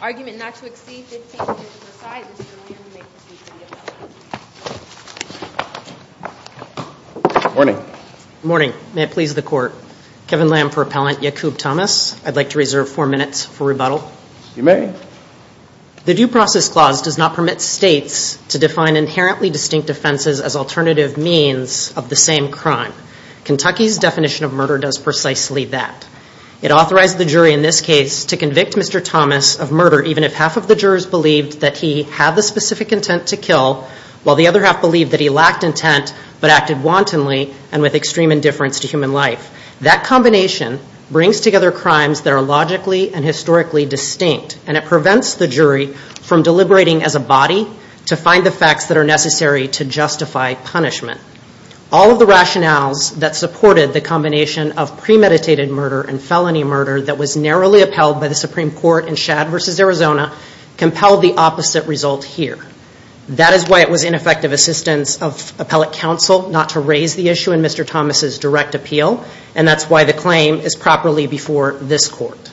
Argument not to exceed 15 digits of a size is the reason we make this video. Good morning. Good morning. May it please the court. Kevin Lamb for Appellant Yaqub Thomas. I'd like to reserve four minutes for rebuttal. You may. The Due Process Clause does not permit states to define inherently distinct offenses as alternative means of the same crime. Kentucky's definition of murder does precisely that. It authorized the jury in this case to convict Mr. Thomas of murder even if half of the jurors believed that he had the specific intent to kill while the other half believed that he lacked intent but acted wantonly and with extreme indifference to human life. That combination brings together crimes that are logically and historically distinct and it prevents the jury from deliberating as a body to find the facts that are necessary to justify punishment. All of the rationales that supported the combination of premeditated murder and felony murder that was narrowly upheld by the Supreme Court in Shad v. Arizona compelled the opposite result here. That is why it was ineffective assistance of appellate counsel not to raise the issue in Mr. Thomas' direct appeal and that's why the claim is properly before this court.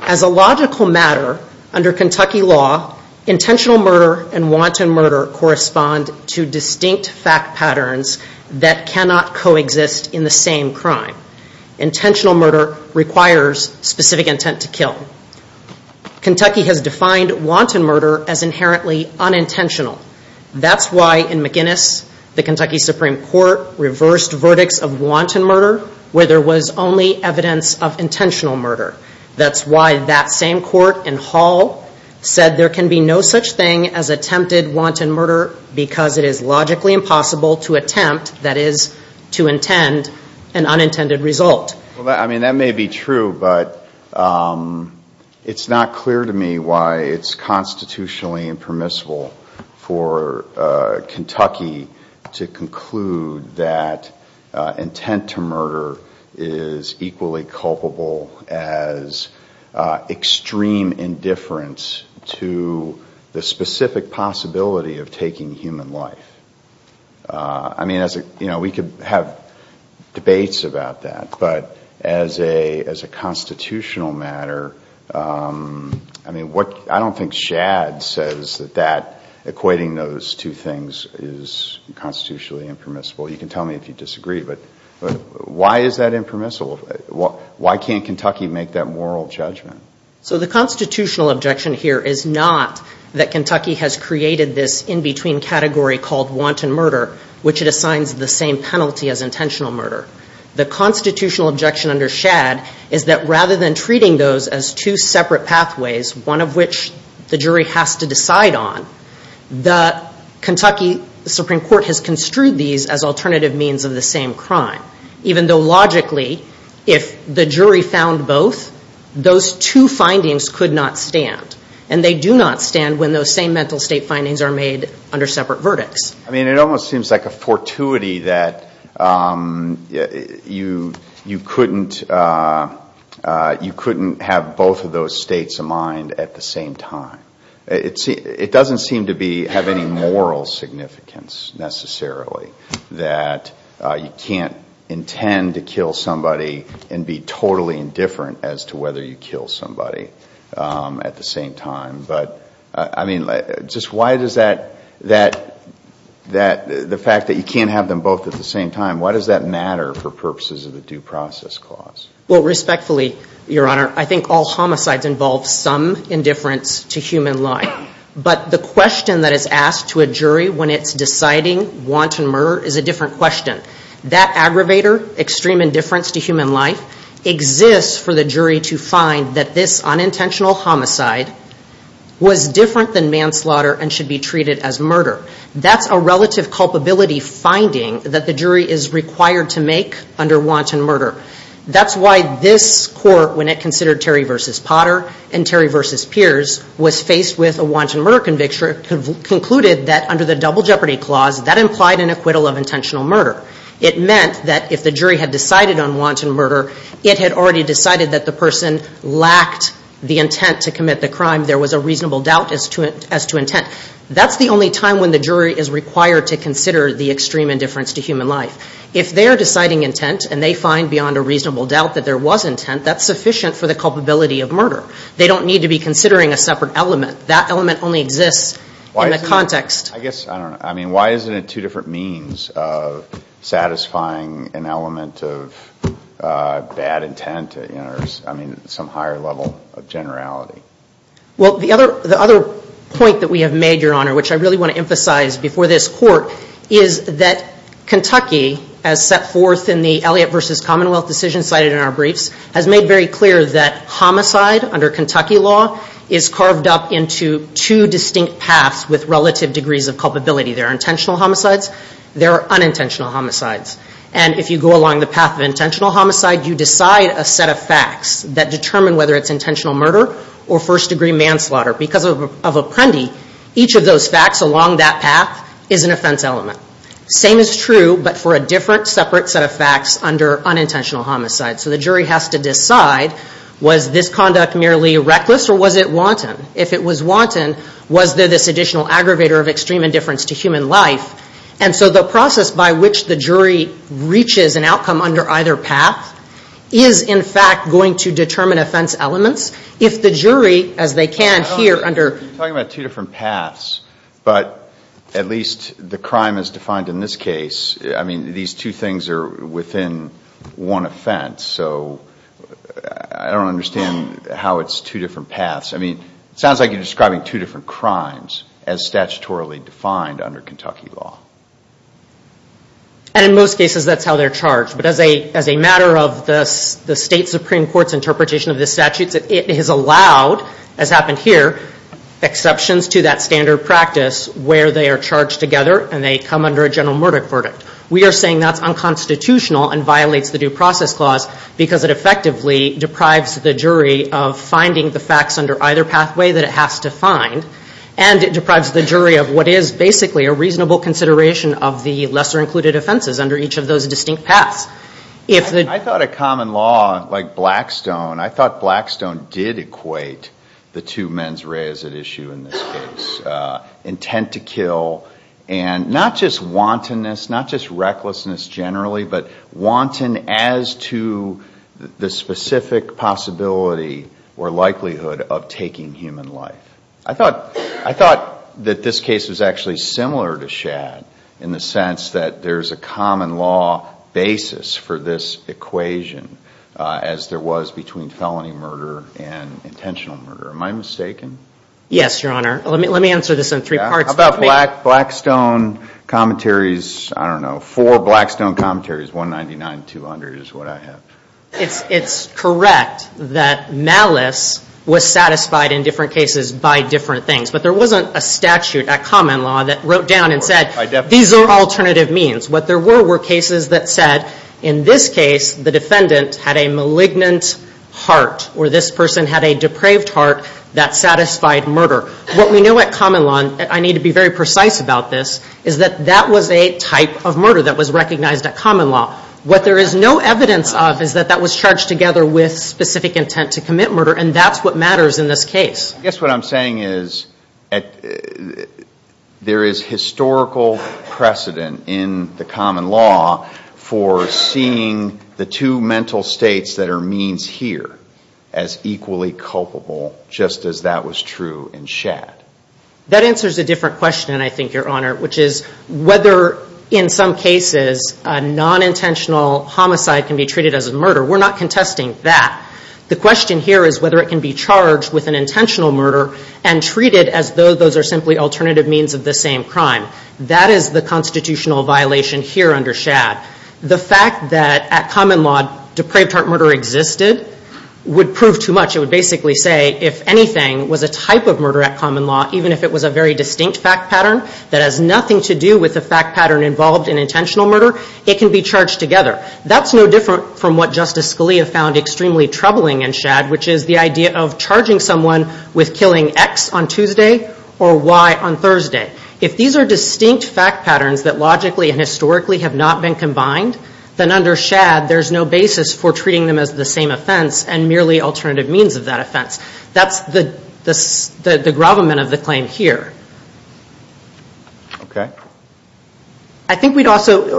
As a logical matter, under Kentucky law, intentional murder and wanton murder correspond to distinct fact patterns that cannot coexist in the same crime. Intentional murder requires specific intent to kill. Kentucky has defined wanton murder as inherently unintentional. That's why in McInnes, the Kentucky Supreme Court reversed verdicts of wanton murder where there was only evidence of intentional murder. That's why that same court in Hall said there can be no such thing as attempted wanton murder because it is logically impossible to attempt, that is, to intend, an unintended result. Well, I mean, that may be true but it's not clear to me why it's constitutionally impermissible for Kentucky to conclude that intent to murder is equally culpable as extreme indifference to the specific possibility of taking human life. I mean, we could have debates about that but as a constitutional matter, I don't think equating those two things is constitutionally impermissible. You can tell me if you disagree but why is that impermissible? Why can't Kentucky make that moral judgment? So the constitutional objection here is not that Kentucky has created this in-between category called wanton murder which it assigns the same penalty as intentional murder. The constitutional objection under Shad is that rather than treating those as two separate pathways, one of which the jury has to decide on, the Kentucky Supreme Court has construed these as alternative means of the same crime. Even though logically if the jury found both, those two findings could not stand and they do not stand when those same mental state findings are made under separate verdicts. I mean, it almost seems like a fortuity that you couldn't have both of those statements of mind at the same time. It doesn't seem to have any moral significance necessarily that you can't intend to kill somebody and be totally indifferent as to whether you kill somebody at the same time. But I mean, just why does that, the fact that you can't have them both at the same time, why does that matter for purposes of the Due Process Clause? Well, respectfully, Your Honor, I think all homicides involve some indifference to human life. But the question that is asked to a jury when it's deciding wanton murder is a different question. That aggravator, extreme indifference to human life, exists for the jury to find that this unintentional homicide was different than manslaughter and should be treated as murder. That's a relative culpability finding that the jury is required to make under wanton murder. That's why this Court, when it considered Terry v. Potter and Terry v. Pierce, was faced with a wanton murder conviction, concluded that under the Double Jeopardy Clause that implied an acquittal of intentional murder. It meant that if the jury had decided on wanton murder, it had already decided that the person lacked the intent to commit the crime. There was a reasonable doubt as to intent. That's the only time when the jury is required to consider the extreme indifference to human life. If they're deciding intent and they find beyond a reasonable doubt that there was intent, that's sufficient for the culpability of murder. They don't need to be considering a separate element. That element only exists in the context. I guess, I don't know, I mean, why isn't it two different means of satisfying an element of bad intent? I mean, some higher level of generality. Well, the other point that we have made, Your Honor, which I really want to emphasize before this Court, is that Kentucky, as set forth in the Elliott versus Commonwealth decision cited in our briefs, has made very clear that homicide under Kentucky law is carved up into two distinct paths with relative degrees of culpability. There are intentional homicides. There are unintentional homicides. And if you go along the path of intentional homicide, you decide a set of facts that determine whether it's intentional murder or first degree manslaughter. Because of Apprendi, each of those facts along that path is an offense element. Same is true, but for a different separate set of facts under unintentional homicide. So the jury has to decide, was this conduct merely reckless or was it wanton? If it was wanton, was there this additional aggravator of extreme indifference to human life? And so the process by which the jury reaches an outcome under either path is, in fact, going to determine offense elements. If the jury, as they can here under- You're talking about two different paths, but at least the crime is defined in this case. I mean, these two things are within one offense, so I don't understand how it's two different paths. I mean, it sounds like you're describing two different crimes as statutorily defined under Kentucky law. And in most cases, that's how they're charged. But as a matter of the state Supreme Court's interpretation of the statutes, it has allowed, as happened here, exceptions to that standard practice where they are charged together and they come under a general murder verdict. We are saying that's unconstitutional and violates the Due Process Clause because it effectively deprives the jury of finding the facts under either pathway that it has to find. And it deprives the jury of what is basically a reasonable consideration of the lesser included offenses under each of those distinct paths. I thought a common law like Blackstone, I thought Blackstone did equate the two mens reas at issue in this case. Intent to kill and not just wantonness, not just recklessness generally, but wanton as to the specific possibility or likelihood of taking human life. I thought that this case was actually similar to Shad in the sense that there's a common law basis for this equation as there was between felony murder and intentional murder. Am I mistaken? Yes, Your Honor. Let me answer this in three parts. How about Blackstone commentaries, I don't know, four Blackstone commentaries, 199, 200 is what I have. It's correct that malice was satisfied in different cases by different things, but there wasn't a statute at common law that wrote down and said, these are alternative means. What there were were cases that said, in this case, the defendant had a malignant heart or this person had a depraved heart that satisfied murder. What we know at common law, I need to be very precise about this, is that that was a type of murder that was recognized at common law. What there is no evidence of is that that was charged together with specific intent to commit murder, and that's what matters in this case. I guess what I'm saying is there is historical precedent in the common law for seeing the two mental states that are means here as equally culpable, just as that was true in Shad. That answers a different question, I think, Your Honor, which is whether in some cases a non-intentional homicide can be treated as a murder. We're not contesting that. The question here is whether it can be charged with an intentional murder and treated as though those are simply alternative means of the same crime. That is the constitutional violation here under Shad. The fact that at common law depraved heart murder existed would prove too much. It would basically say if anything was a type of murder at common law, even if it was a very distinct fact pattern that has nothing to do with the fact pattern involved in intentional murder, it can be charged together. That's no different from what Justice Scalia found extremely troubling in Shad, which is the idea of charging someone with killing X on Tuesday or Y on Thursday. If these are distinct fact patterns that logically and historically have not been combined, then under Shad there's no basis for treating them as the same offense and merely alternative means of that offense. That's the gravamen of the claim here. Okay. I think we'd also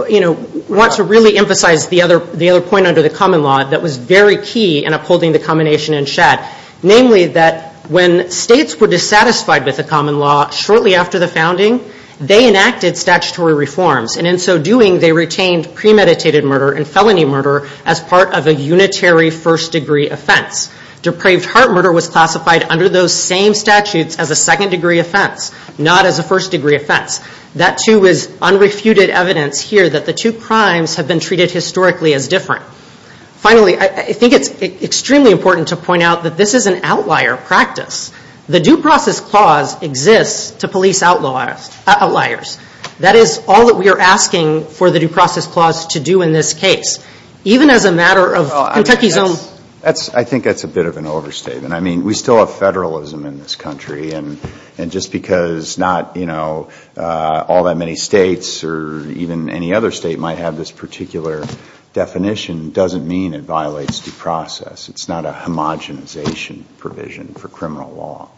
want to really emphasize the other point under the common law that was very key in upholding the combination in Shad, namely that when states were dissatisfied with the common law shortly after the founding, they enacted statutory reforms and in so doing they retained premeditated murder and felony murder as part of a unitary first degree offense. Depraved heart murder was classified under those same statutes as a second degree offense, not as a first degree offense. That too is unrefuted evidence here that the two crimes have been treated historically as different. Finally, I think it's extremely important to point out that this is an outlier practice. The due process clause exists to police outliers. That is all that we are asking for the due process clause to do in this case. Even as a matter of Kentucky's own... I think that's a bit of an overstatement. We still have federalism in this country and just because not all that many states or even any other state might have this particular definition doesn't mean it violates due process. It's not a homogenization provision for criminal law.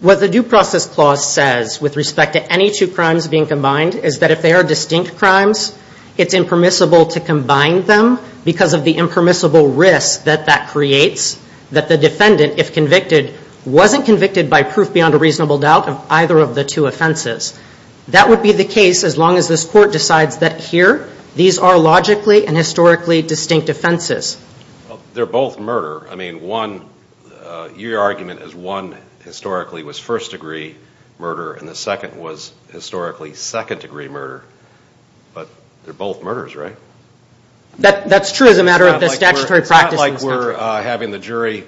What the due process clause says with respect to any two crimes being combined is that if they are distinct crimes, it's impermissible to combine them because of the impermissible risk that that creates that the defendant, if convicted, wasn't convicted by proof beyond a reasonable doubt of either of the two offenses. That would be the case as long as this court decides that here, these are logically and historically distinct offenses. They're both murder. I mean, one, your argument is one historically was first degree murder and the second was historically second degree murder, but they're both murders, right? That's true as a matter of the statutory practice in this country. It's not like we're having the jury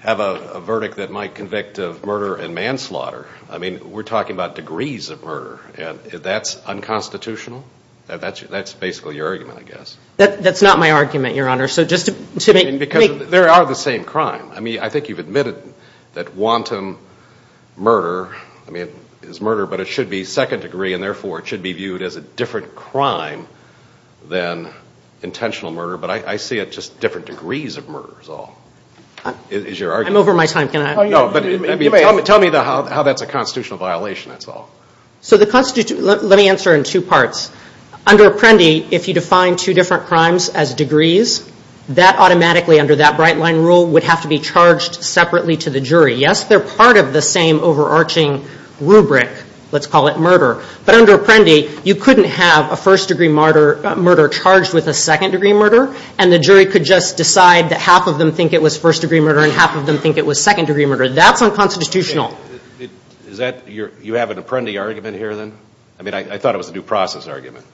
have a verdict that might convict of murder and manslaughter. I mean, we're talking about degrees of murder. That's unconstitutional? That's basically your argument, I guess. That's not my argument, Your Honor, so just to make... There are the same crime. I mean, I think you've admitted that wanton murder, I mean, is murder, but it should be second degree and therefore it should be viewed as a different crime than intentional murder, but I see it just different degrees of murder is all, is your argument. I'm over my time. Can I... No, but tell me how that's a constitutional violation, that's all. So the constitutional... Let me answer in two parts. Under Apprendi, if you define two different crimes as degrees, that automatically under that bright line rule would have to be charged separately to the jury. Yes, they're part of the same overarching rubric, let's call it murder, but under Apprendi, you couldn't have a first degree murder charged with a second degree murder and the jury could just decide that half of them think it was first degree murder and half of them think it was second degree murder. That's unconstitutional. Okay. Is that... You have an Apprendi argument here then? I mean, I thought it was a due process argument.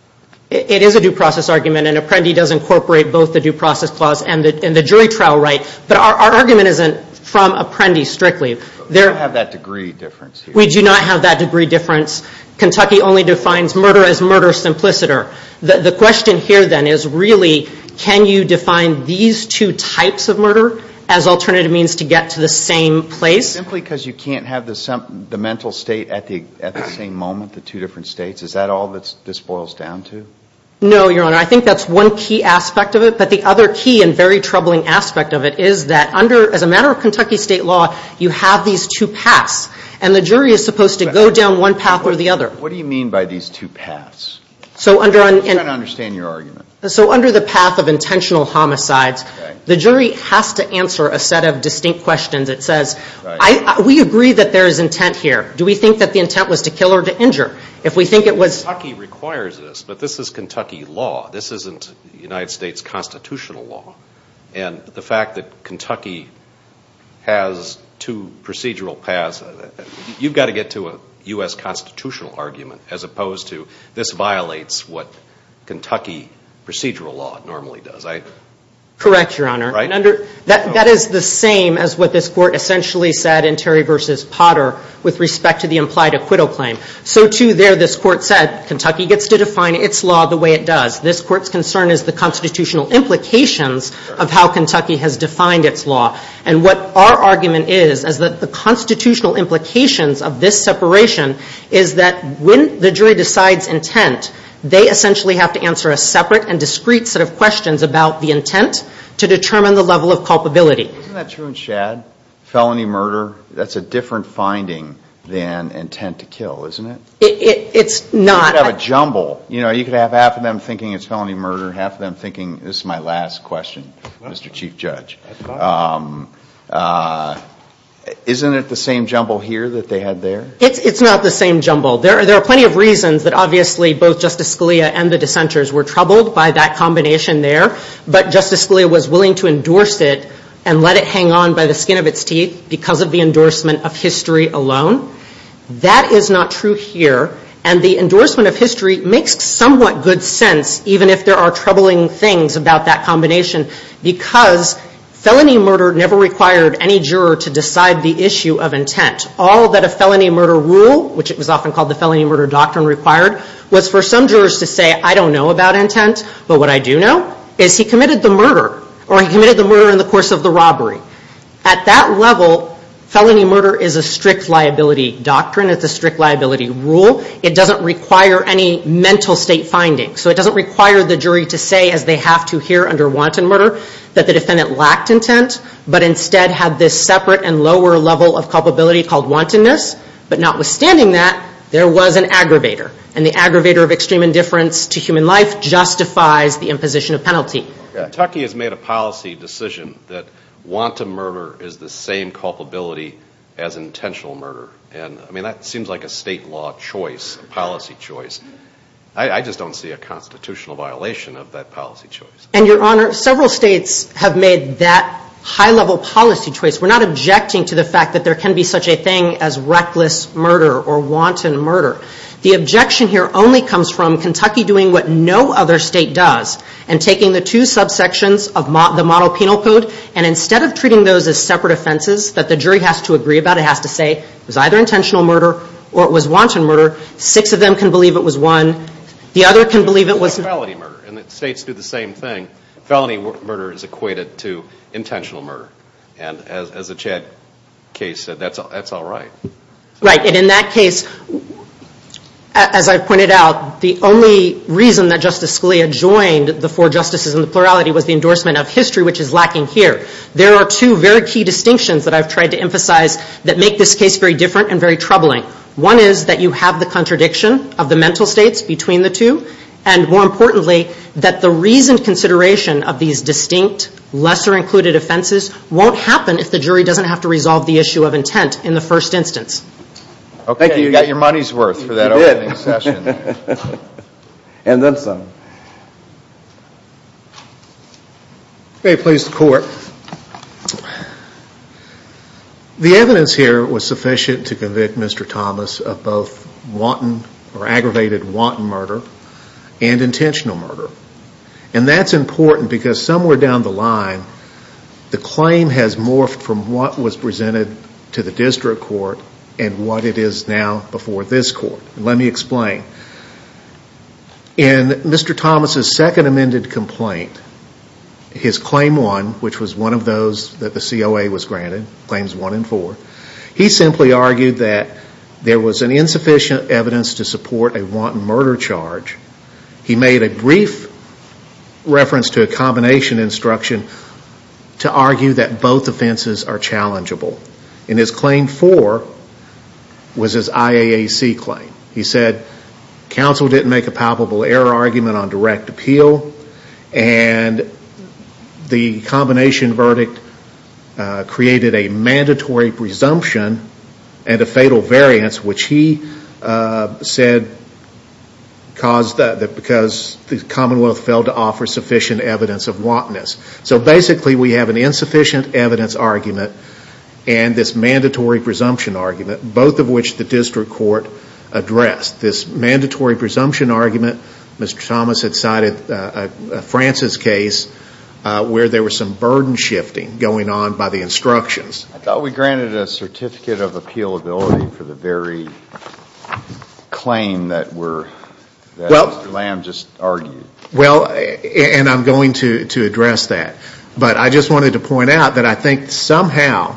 It is a due process argument and Apprendi does incorporate both the due process clause and the jury trial right, but our argument isn't from Apprendi strictly. There... We don't have that degree difference here. We do not have that degree difference. Kentucky only defines murder as murder simpliciter. The question here then is really, can you define these two types of murder as alternative means to get to the same place? Simply because you can't have the mental state at the same moment, the two different states, is that all this boils down to? No, Your Honor. I think that's one key aspect of it, but the other key and very troubling aspect of it is that under, as a matter of Kentucky state law, you have these two paths and the jury is supposed to go down one path or the other. What do you mean by these two paths? So under an... I'm trying to understand your argument. So under the path of intentional homicides, the jury has to answer a set of distinct questions. It says, we agree that there is intent here. Do we think that the intent was to kill or to injure? If we think it was... But this is Kentucky law. This isn't United States constitutional law. And the fact that Kentucky has two procedural paths, you've got to get to a U.S. constitutional argument as opposed to this violates what Kentucky procedural law normally does. Correct, Your Honor. That is the same as what this court essentially said in Terry v. Potter with respect to the implied acquittal claim. So to there, this court said, Kentucky gets to define its law the way it does. This court's concern is the constitutional implications of how Kentucky has defined its law. And what our argument is, is that the constitutional implications of this separation is that when the jury decides intent, they essentially have to answer a separate and discrete set of questions about the intent to determine the level of culpability. Isn't that true in Shad? Felony murder, that's a different finding than intent to kill. Isn't it? It's not. You could have a jumble. You know, you could have half of them thinking it's felony murder, half of them thinking this is my last question, Mr. Chief Judge. Isn't it the same jumble here that they had there? It's not the same jumble. There are plenty of reasons that obviously both Justice Scalia and the dissenters were troubled by that combination there. But Justice Scalia was willing to endorse it and let it hang on by the skin of its teeth because of the endorsement of history alone. That is not true here. And the endorsement of history makes somewhat good sense, even if there are troubling things about that combination, because felony murder never required any juror to decide the issue of intent. All that a felony murder rule, which it was often called the felony murder doctrine required, was for some jurors to say, I don't know about intent, but what I do know is he committed the murder, or he committed the murder in the course of the robbery. At that level, felony murder is a strict liability doctrine, it's a strict liability rule. It doesn't require any mental state findings. So it doesn't require the jury to say, as they have to here under wanton murder, that the defendant lacked intent, but instead had this separate and lower level of culpability called wantonness. But notwithstanding that, there was an aggravator. And the aggravator of extreme indifference to human life justifies the imposition of penalty. Kentucky has made a policy decision that wanton murder is the same culpability as intentional murder. And I mean, that seems like a state law choice, a policy choice. I just don't see a constitutional violation of that policy choice. And your honor, several states have made that high level policy choice. We're not objecting to the fact that there can be such a thing as reckless murder or wanton murder. The objection here only comes from Kentucky doing what no other state does, and taking the two subsections of the model penal code, and instead of treating those as separate offenses that the jury has to agree about, it has to say, it was either intentional murder or it was wanton murder. Six of them can believe it was one. The other can believe it was- But what about felony murder? And states do the same thing. Felony murder is equated to intentional murder. And as the Chad case said, that's all right. Right. And in that case, as I pointed out, the only reason that Justice Scalia joined the four justices in the plurality was the endorsement of history, which is lacking here. There are two very key distinctions that I've tried to emphasize that make this case very different and very troubling. One is that you have the contradiction of the mental states between the two. And more importantly, that the reasoned consideration of these distinct, lesser included offenses won't happen if the jury doesn't have to resolve the issue of intent in the first instance. Okay. Thank you. You got your money's worth for that opening session. And then some. Okay. Please, the court. The evidence here was sufficient to convict Mr. Thomas of both wanton or aggravated wanton murder and intentional murder. And that's important because somewhere down the line, the claim has morphed from what was presented to the district court and what it is now before this court. Let me explain. In Mr. Thomas' second amended complaint, his claim one, which was one of those that the COA was granted, claims one and four, he simply argued that there was an insufficient evidence to support a wanton murder charge. He made a brief reference to a combination instruction to argue that both offenses are He said, counsel didn't make a palpable error argument on direct appeal and the combination verdict created a mandatory presumption and a fatal variance, which he said caused, because the commonwealth failed to offer sufficient evidence of wantonness. So basically we have an insufficient evidence argument and this mandatory presumption argument, both of which the district court addressed. This mandatory presumption argument, Mr. Thomas had cited a Francis case where there were some burden shifting going on by the instructions. I thought we granted a certificate of appealability for the very claim that Mr. Lamb just argued. And I'm going to address that. But I just wanted to point out that I think somehow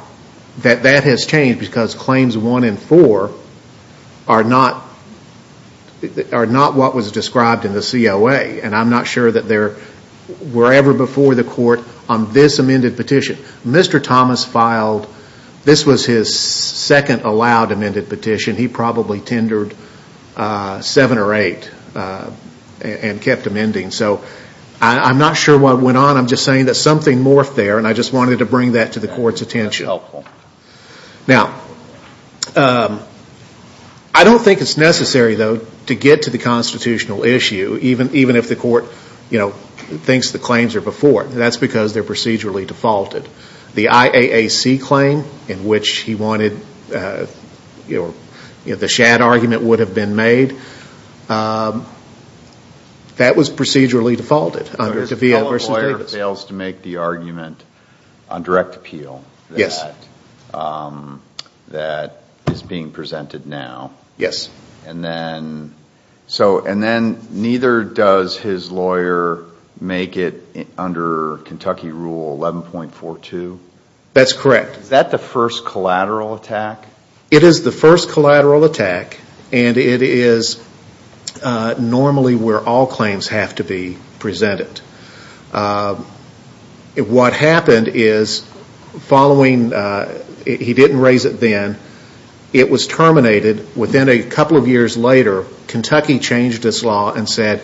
that that has changed because claims one and four are not what was described in the COA and I'm not sure that they were ever before the court on this amended petition. Mr. Thomas filed, this was his second allowed amended petition, he probably tendered seven or eight and kept amending. So I'm not sure what went on, I'm just saying that something morphed there and I just wanted to bring that to the court's attention. Now I don't think it's necessary though to get to the constitutional issue, even if the court thinks the claims are before. That's because they're procedurally defaulted. The IAAC claim in which he wanted, the shad argument would have been made, that was procedurally defaulted under De Villa v. Davis. If a lawyer fails to make the argument on direct appeal that is being presented now, and then neither does his lawyer make it under Kentucky Rule 11.42? That's correct. Is that the first collateral attack? It is the first collateral attack and it is normally where all claims have to be presented. What happened is following, he didn't raise it then, it was terminated within a couple of years later, Kentucky changed its law and said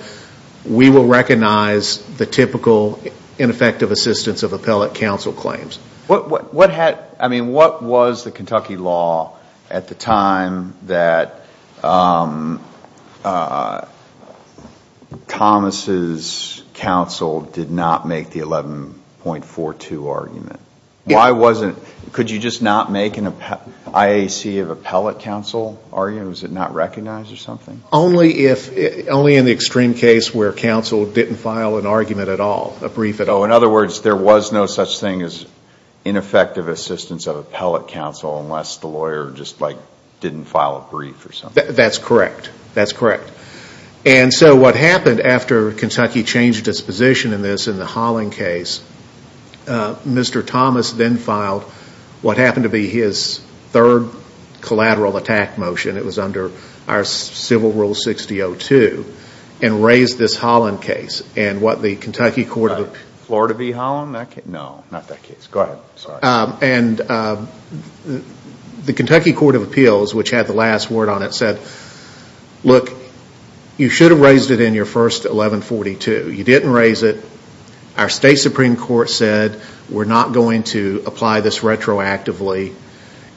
we will recognize the typical ineffective assistance of appellate counsel claims. What was the Kentucky law at the time that Thomas' counsel did not make the 11.42 argument? Could you just not make an IAC of appellate counsel argument? Was it not recognized or something? Only in the extreme case where counsel didn't file an argument at all, a brief at all. In other words, there was no such thing as ineffective assistance of appellate counsel unless the lawyer just didn't file a brief or something. That's correct. What happened after Kentucky changed its position in this, in the Holland case, Mr. Thomas then filed what happened to be his third collateral attack motion, it was under our Civil Rule 6.02 and raised this Holland case and what the Kentucky Court of Appeals, the Kentucky Court of Appeals which had the last word on it said, look, you should have raised it in your first 11.42, you didn't raise it, our State Supreme Court said we are not going to apply this retroactively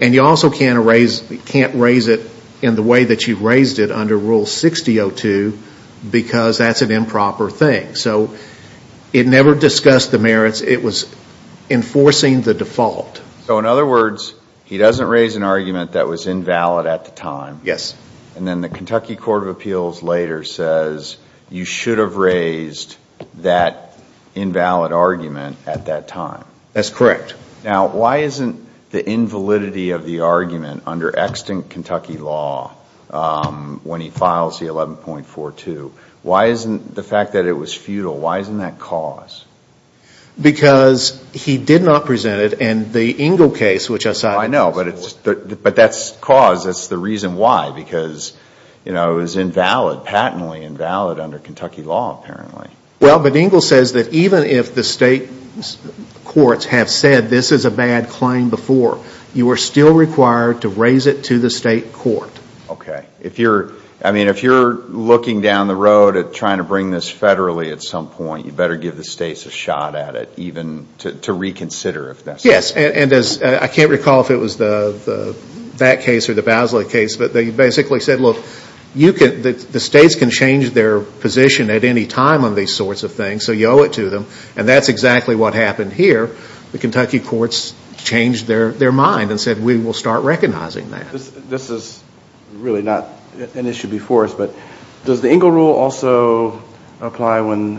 and you also can't raise it in the way that you raised it under Rule 6.02 because that's an improper thing. So it never discussed the merits, it was enforcing the default. So in other words, he doesn't raise an argument that was invalid at the time. Yes. And then the Kentucky Court of Appeals later says you should have raised that invalid argument at that time. That's correct. Now, why isn't the invalidity of the argument under extant Kentucky law when he files the 11.42, why isn't the fact that it was futile, why isn't that cause? Because he did not present it and the Engle case which I cited. I know, but that's cause, that's the reason why, because it was invalid, patently invalid under Kentucky law apparently. Well, but Engle says that even if the state courts have said this is a bad claim before, you are still required to raise it to the state court. Okay. If you're, I mean if you're looking down the road at trying to bring this federally at some point, you better give the states a shot at it even to reconsider if necessary. Yes, and as, I can't recall if it was that case or the Basley case, but they basically said look, you can, the states can change their position at any time on these sorts of things, so you owe it to them, and that's exactly what happened here. The Kentucky courts changed their mind and said we will start recognizing that. This is really not an issue before us, but does the Engle rule also apply when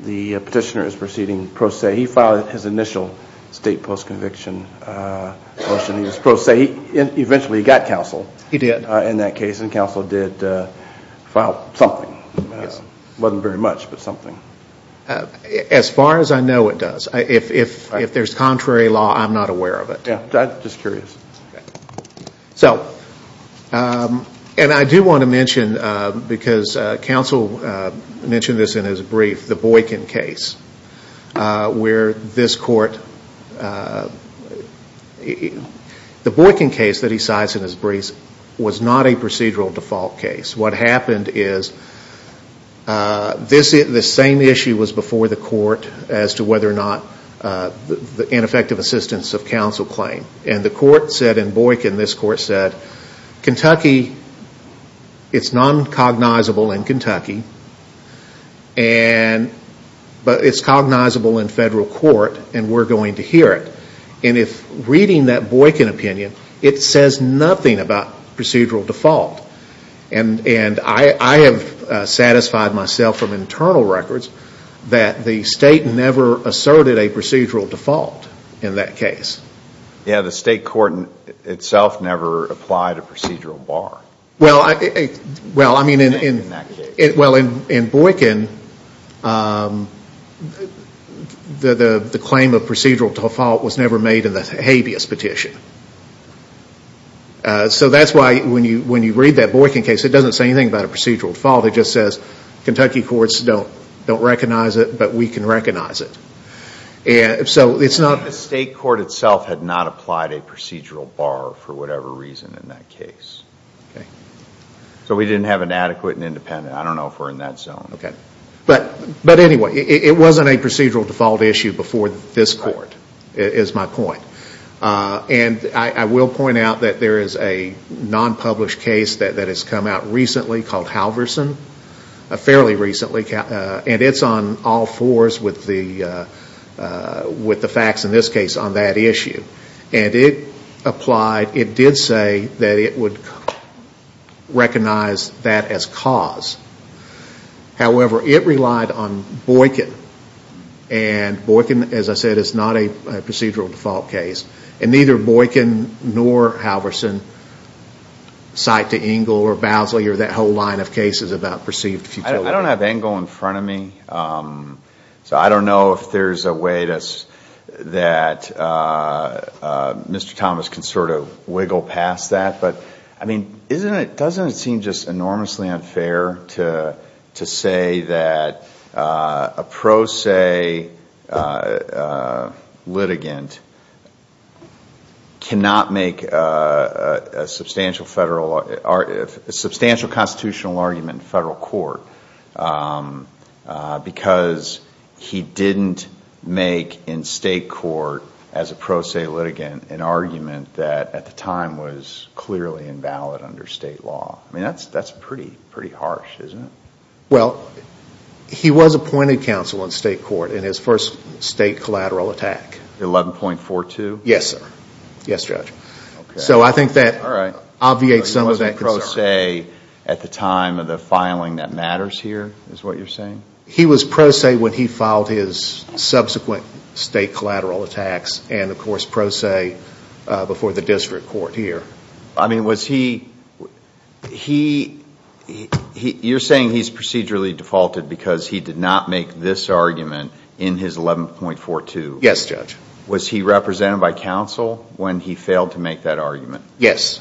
the petitioner is proceeding pro se? He filed his initial state post conviction motion, he was pro se, eventually he got counsel. He did. In that case, and counsel did file something, it wasn't very much, but something. As far as I know it does, if there's contrary law, I'm not aware of it. Yeah, I'm just curious. So, and I do want to mention, because counsel mentioned this in his brief, the Boykin case, where this court, the Boykin case that he cites in his brief was not a procedural default case. What happened is, this same issue was before the court as to whether or not the ineffective assistance of counsel claim, and the court said in Boykin, this court said, Kentucky, it's non-cognizable in Kentucky, but it's cognizable in federal court and we're going to hear it. If reading that Boykin opinion, it says nothing about procedural default. I have satisfied myself from internal records that the state never asserted a procedural default in that case. Yeah, the state court itself never applied a procedural bar. Well, I mean, in Boykin, the claim of procedural default was never made in the habeas petition. So that's why when you read that Boykin case, it doesn't say anything about a procedural default, it just says, Kentucky courts don't recognize it, but we can recognize it. The state court itself had not applied a procedural bar for whatever reason in that case. So we didn't have an adequate and independent, I don't know if we're in that zone. But anyway, it wasn't a procedural default issue before this court, is my point. I will point out that there is a non-published case that has come out recently called Halverson, fairly recently, and it's on all fours with the facts in this case on that issue. And it applied, it did say that it would recognize that as cause. However, it relied on Boykin, and Boykin, as I said, is not a procedural default case. And neither Boykin nor Halverson cite to Engle or Bousley or that whole line of cases about perceived futility. I don't have Engle in front of me, so I don't know if there's a way that Mr. Thomas can sort of wiggle past that, but I mean, doesn't it seem just enormously unfair to say that a pro se litigant cannot make a substantial constitutional argument in federal court because he didn't make in state court, as a pro se litigant, an argument that at the time was clearly invalid under state law? I mean, that's pretty harsh, isn't it? Well, he was appointed counsel in state court in his first state collateral attack. 11.42? Yes, sir. Yes, Judge. Okay. So I think that obviates some of that concern. All right. But he wasn't pro se at the time of the filing that matters here, is what you're saying? He was pro se when he filed his subsequent state collateral attacks, and of course pro se before the district court here. I mean, was he, you're saying he's procedurally defaulted because he did not make this argument in his 11.42? Yes, Judge. Was he represented by counsel when he failed to make that argument? Yes.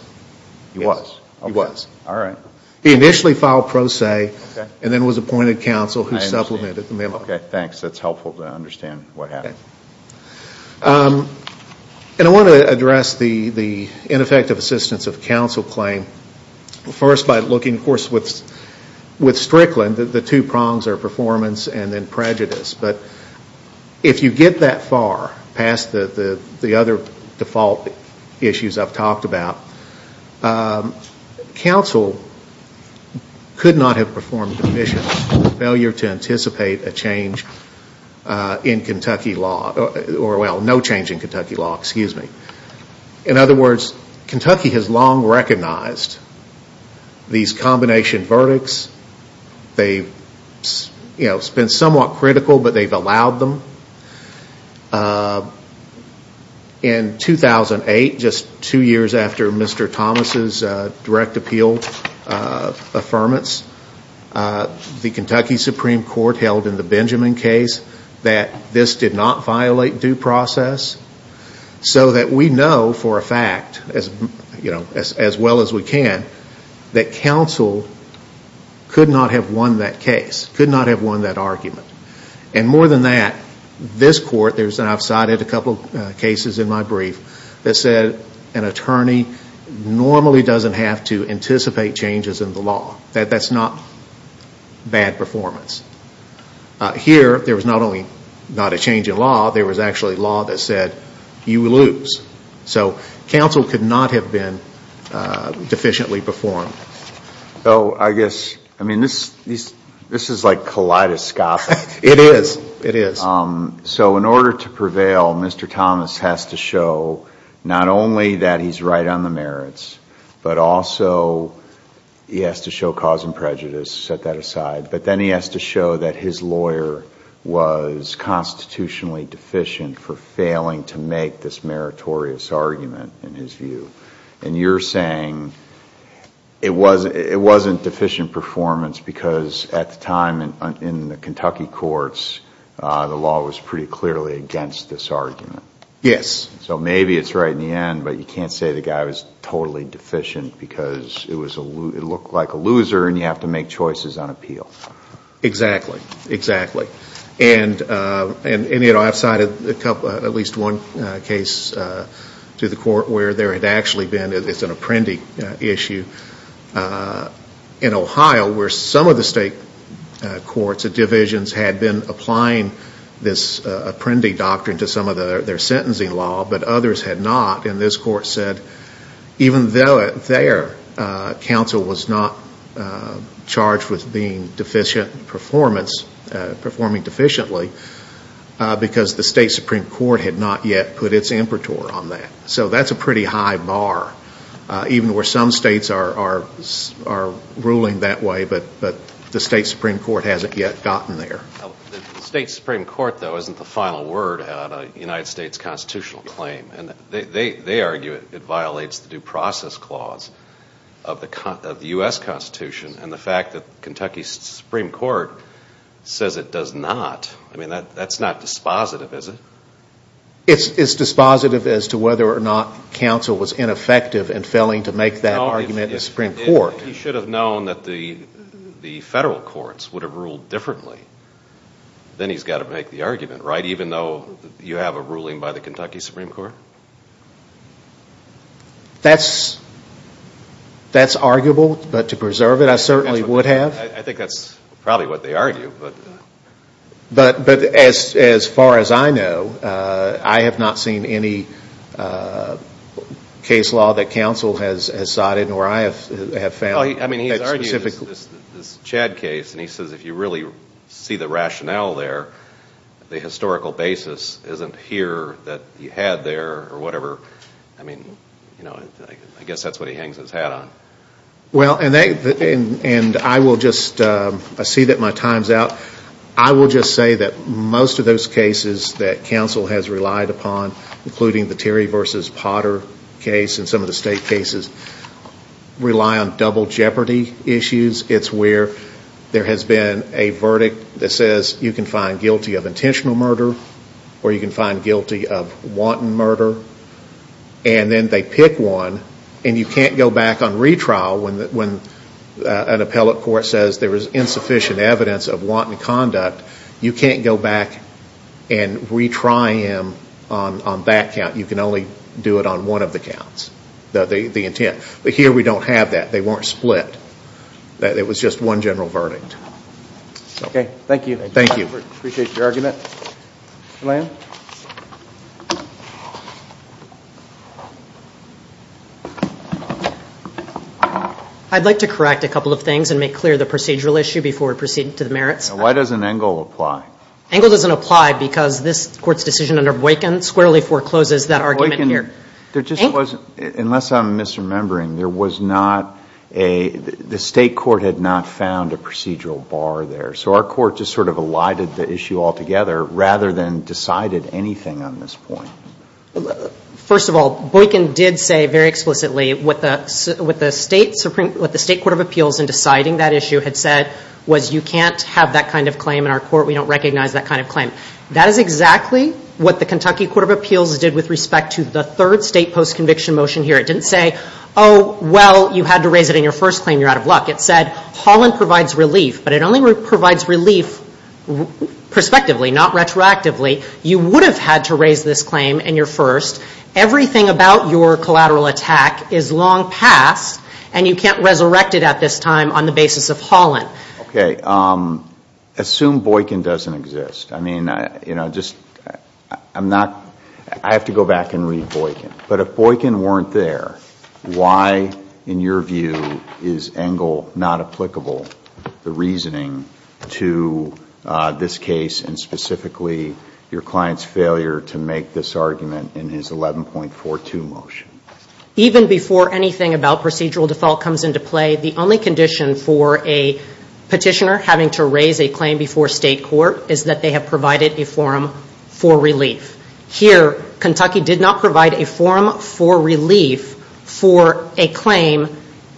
He was? He was. All right. He initially filed pro se, and then was appointed counsel who supplemented the memo. Okay, thanks. That's helpful to understand what happened. And I want to address the ineffective assistance of counsel claim first by looking, of course, with Strickland, the two prongs are performance and then prejudice. But if you get that far past the other default issues I've talked about, counsel could not have performed the mission of failure to anticipate a change in Kentucky law, or well, no change in Kentucky law, excuse me. In other words, Kentucky has long recognized these combination verdicts. They've been somewhat critical, but they've allowed them. In 2008, just two years after Mr. Thomas' direct appeal affirmance, the Kentucky Supreme Court held in the Benjamin case that this did not violate due process. So that we know for a fact, as well as we can, that counsel could not have won that case, could not have won that argument. And more than that, this court, and I've cited a couple cases in my brief, that said an attorney normally doesn't have to anticipate changes in the law. That's not bad performance. Here there was not only not a change in law, there was actually law that said you lose. So I guess, I mean, this is like kaleidoscopic. It is. It is. So in order to prevail, Mr. Thomas has to show not only that he's right on the merits, but also he has to show cause and prejudice, set that aside. But then he has to show that his lawyer was constitutionally deficient for failing to make this meritorious argument, in his view. And you're saying it wasn't deficient performance because at the time in the Kentucky courts, the law was pretty clearly against this argument. Yes. So maybe it's right in the end, but you can't say the guy was totally deficient because it looked like a loser and you have to make choices on appeal. Exactly. Exactly. And I've cited at least one case to the court where there had actually been, it's an apprendee issue, in Ohio where some of the state courts and divisions had been applying this apprendee doctrine to some of their sentencing law, but others had not, and this court said even though their counsel was not charged with being deficient performance, performing deficient efficiently, because the state Supreme Court had not yet put its impertor on that. So that's a pretty high bar, even where some states are ruling that way, but the state Supreme Court hasn't yet gotten there. The state Supreme Court, though, isn't the final word on a United States constitutional claim, and they argue it violates the due process clause of the U.S. Constitution, and the fact that Kentucky Supreme Court says it does not, that's not dispositive, is it? It's dispositive as to whether or not counsel was ineffective in failing to make that argument in the Supreme Court. If he should have known that the federal courts would have ruled differently, then he's got to make the argument, right, even though you have a ruling by the Kentucky Supreme Court? That's, that's arguable, but to preserve it, I certainly would have. I think that's probably what they argue, but. But as far as I know, I have not seen any case law that counsel has cited, or I have found that specifically. I mean, he's argued this Chad case, and he says if you really see the rationale there, the historical basis isn't here that you had there, or whatever, I mean, you know, I guess that's what he hangs his hat on. Well, and they, and I will just, I see that my time's out. I will just say that most of those cases that counsel has relied upon, including the Terry versus Potter case and some of the state cases, rely on double jeopardy issues. It's where there has been a verdict that says you can find guilty of intentional murder, or you can find guilty of wanton murder, and then they pick one, and you can't go back on retrial when an appellate court says there is insufficient evidence of wanton conduct. You can't go back and retry him on that count. You can only do it on one of the counts, the intent. But here, we don't have that. They weren't split. It was just one general verdict. Okay. Thank you. Thank you. Appreciate your argument. Lan? I'd like to correct a couple of things and make clear the procedural issue before we proceed to the merits. Why doesn't Engle apply? Engle doesn't apply because this court's decision under Boykin squarely forecloses that argument here. There just wasn't, unless I'm misremembering, there was not a, the state court had not found a procedural bar there. So our court just sort of elided the issue altogether rather than decided anything on this point. First of all, Boykin did say very explicitly what the state Supreme, what the state court of appeals in deciding that issue had said was you can't have that kind of claim in our court, we don't recognize that kind of claim. That is exactly what the Kentucky court of appeals did with respect to the third state post-conviction motion here. It didn't say, oh, well, you had to raise it in your first claim, you're out of luck. It said, Holland provides relief, but it only provides relief prospectively, not retroactively. You would have had to raise this claim in your first. Everything about your collateral attack is long past and you can't resurrect it at this time on the basis of Holland. Okay. Assume Boykin doesn't exist. I mean, you know, just, I'm not, I have to go back and read Boykin. But if Boykin weren't there, why, in your view, is Engel not applicable, the reasoning to this case and specifically your client's failure to make this argument in his 11.42 motion? Even before anything about procedural default comes into play, the only condition for a petitioner having to raise a claim before state court is that they have provided a forum for relief. Here, Kentucky did not provide a forum for relief for a claim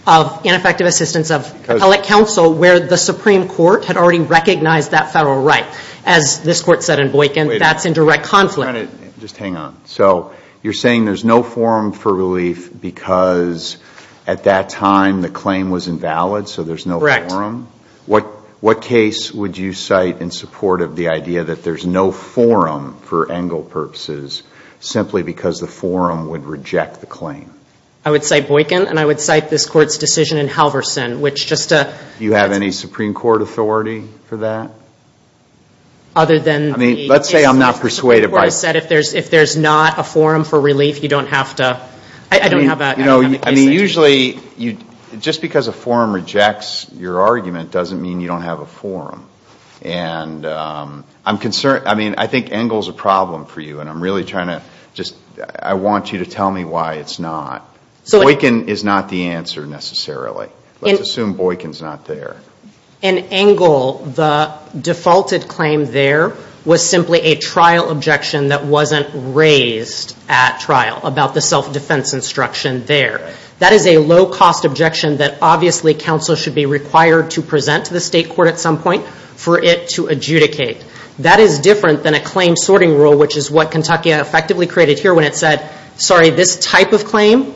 of ineffective assistance of appellate counsel where the Supreme Court had already recognized that federal right. As this court said in Boykin, that's in direct conflict. Just hang on. So you're saying there's no forum for relief because at that time the claim was invalid, so there's no forum? Correct. What case would you cite in support of the idea that there's no forum for Engel purposes simply because the forum would reject the claim? I would cite Boykin and I would cite this court's decision in Halverson, which just a. Do you have any Supreme Court authority for that? Other than the. I mean, let's say I'm not persuaded by. The Supreme Court said if there's not a forum for relief, you don't have to, I don't have a. I mean, usually just because a forum rejects your argument doesn't mean you don't have a forum. And I'm concerned, I mean, I think Engel's a problem for you and I'm really trying to just, I want you to tell me why it's not. Boykin is not the answer necessarily. Let's assume Boykin's not there. In Engel, the defaulted claim there was simply a trial objection that wasn't raised at trial about the self-defense instruction there. That is a low-cost objection that obviously counsel should be required to present to the state court at some point for it to adjudicate. That is different than a claim sorting rule, which is what Kentucky effectively created here when it said, sorry, this type of claim,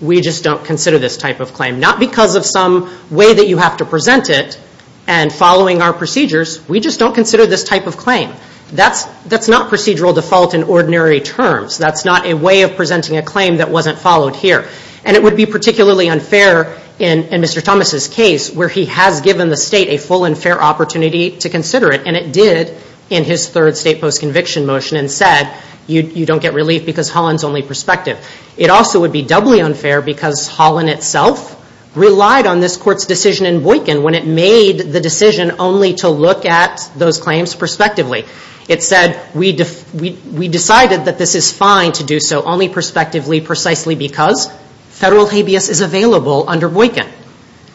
we just don't consider this type of claim. Not because of some way that you have to present it and following our procedures, we just don't consider this type of claim. That's not procedural default in ordinary terms. That's not a way of presenting a claim that wasn't followed here. And it would be particularly unfair in Mr. Thomas' case where he has given the state a full and fair opportunity to consider it, and it did in his third state post-conviction motion and said you don't get relief because Holland's only perspective. It also would be doubly unfair because Holland itself relied on this court's decision in Boykin when it made the decision only to look at those claims prospectively. It said we decided that this is fine to do so only prospectively precisely because federal habeas is available under Boykin.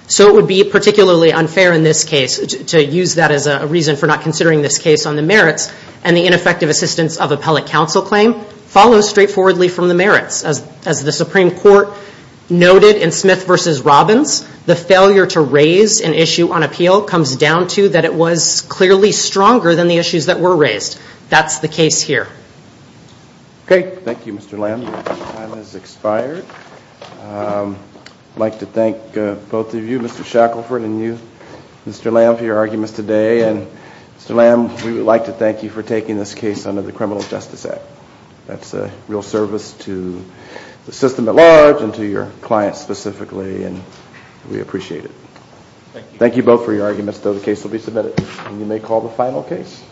So it would be particularly unfair in this case to use that as a reason for not considering this case on the merits and the ineffective assistance of appellate counsel claim follows straightforwardly from the merits. As the Supreme Court noted in Smith v. Robbins, the failure to raise an issue on appeal comes down to that it was clearly stronger than the issues that were raised. That's the case here. Okay. Thank you, Mr. Lamb. Your time has expired. I'd like to thank both of you, Mr. Shackelford and you, Mr. Lamb, for your arguments today. And Mr. Lamb, we would like to thank you for taking this case under the Criminal Justice Act. That's a real service to the system at large and to your client specifically, and we appreciate it. Thank you both for your arguments. The case will be submitted and you may call the final case.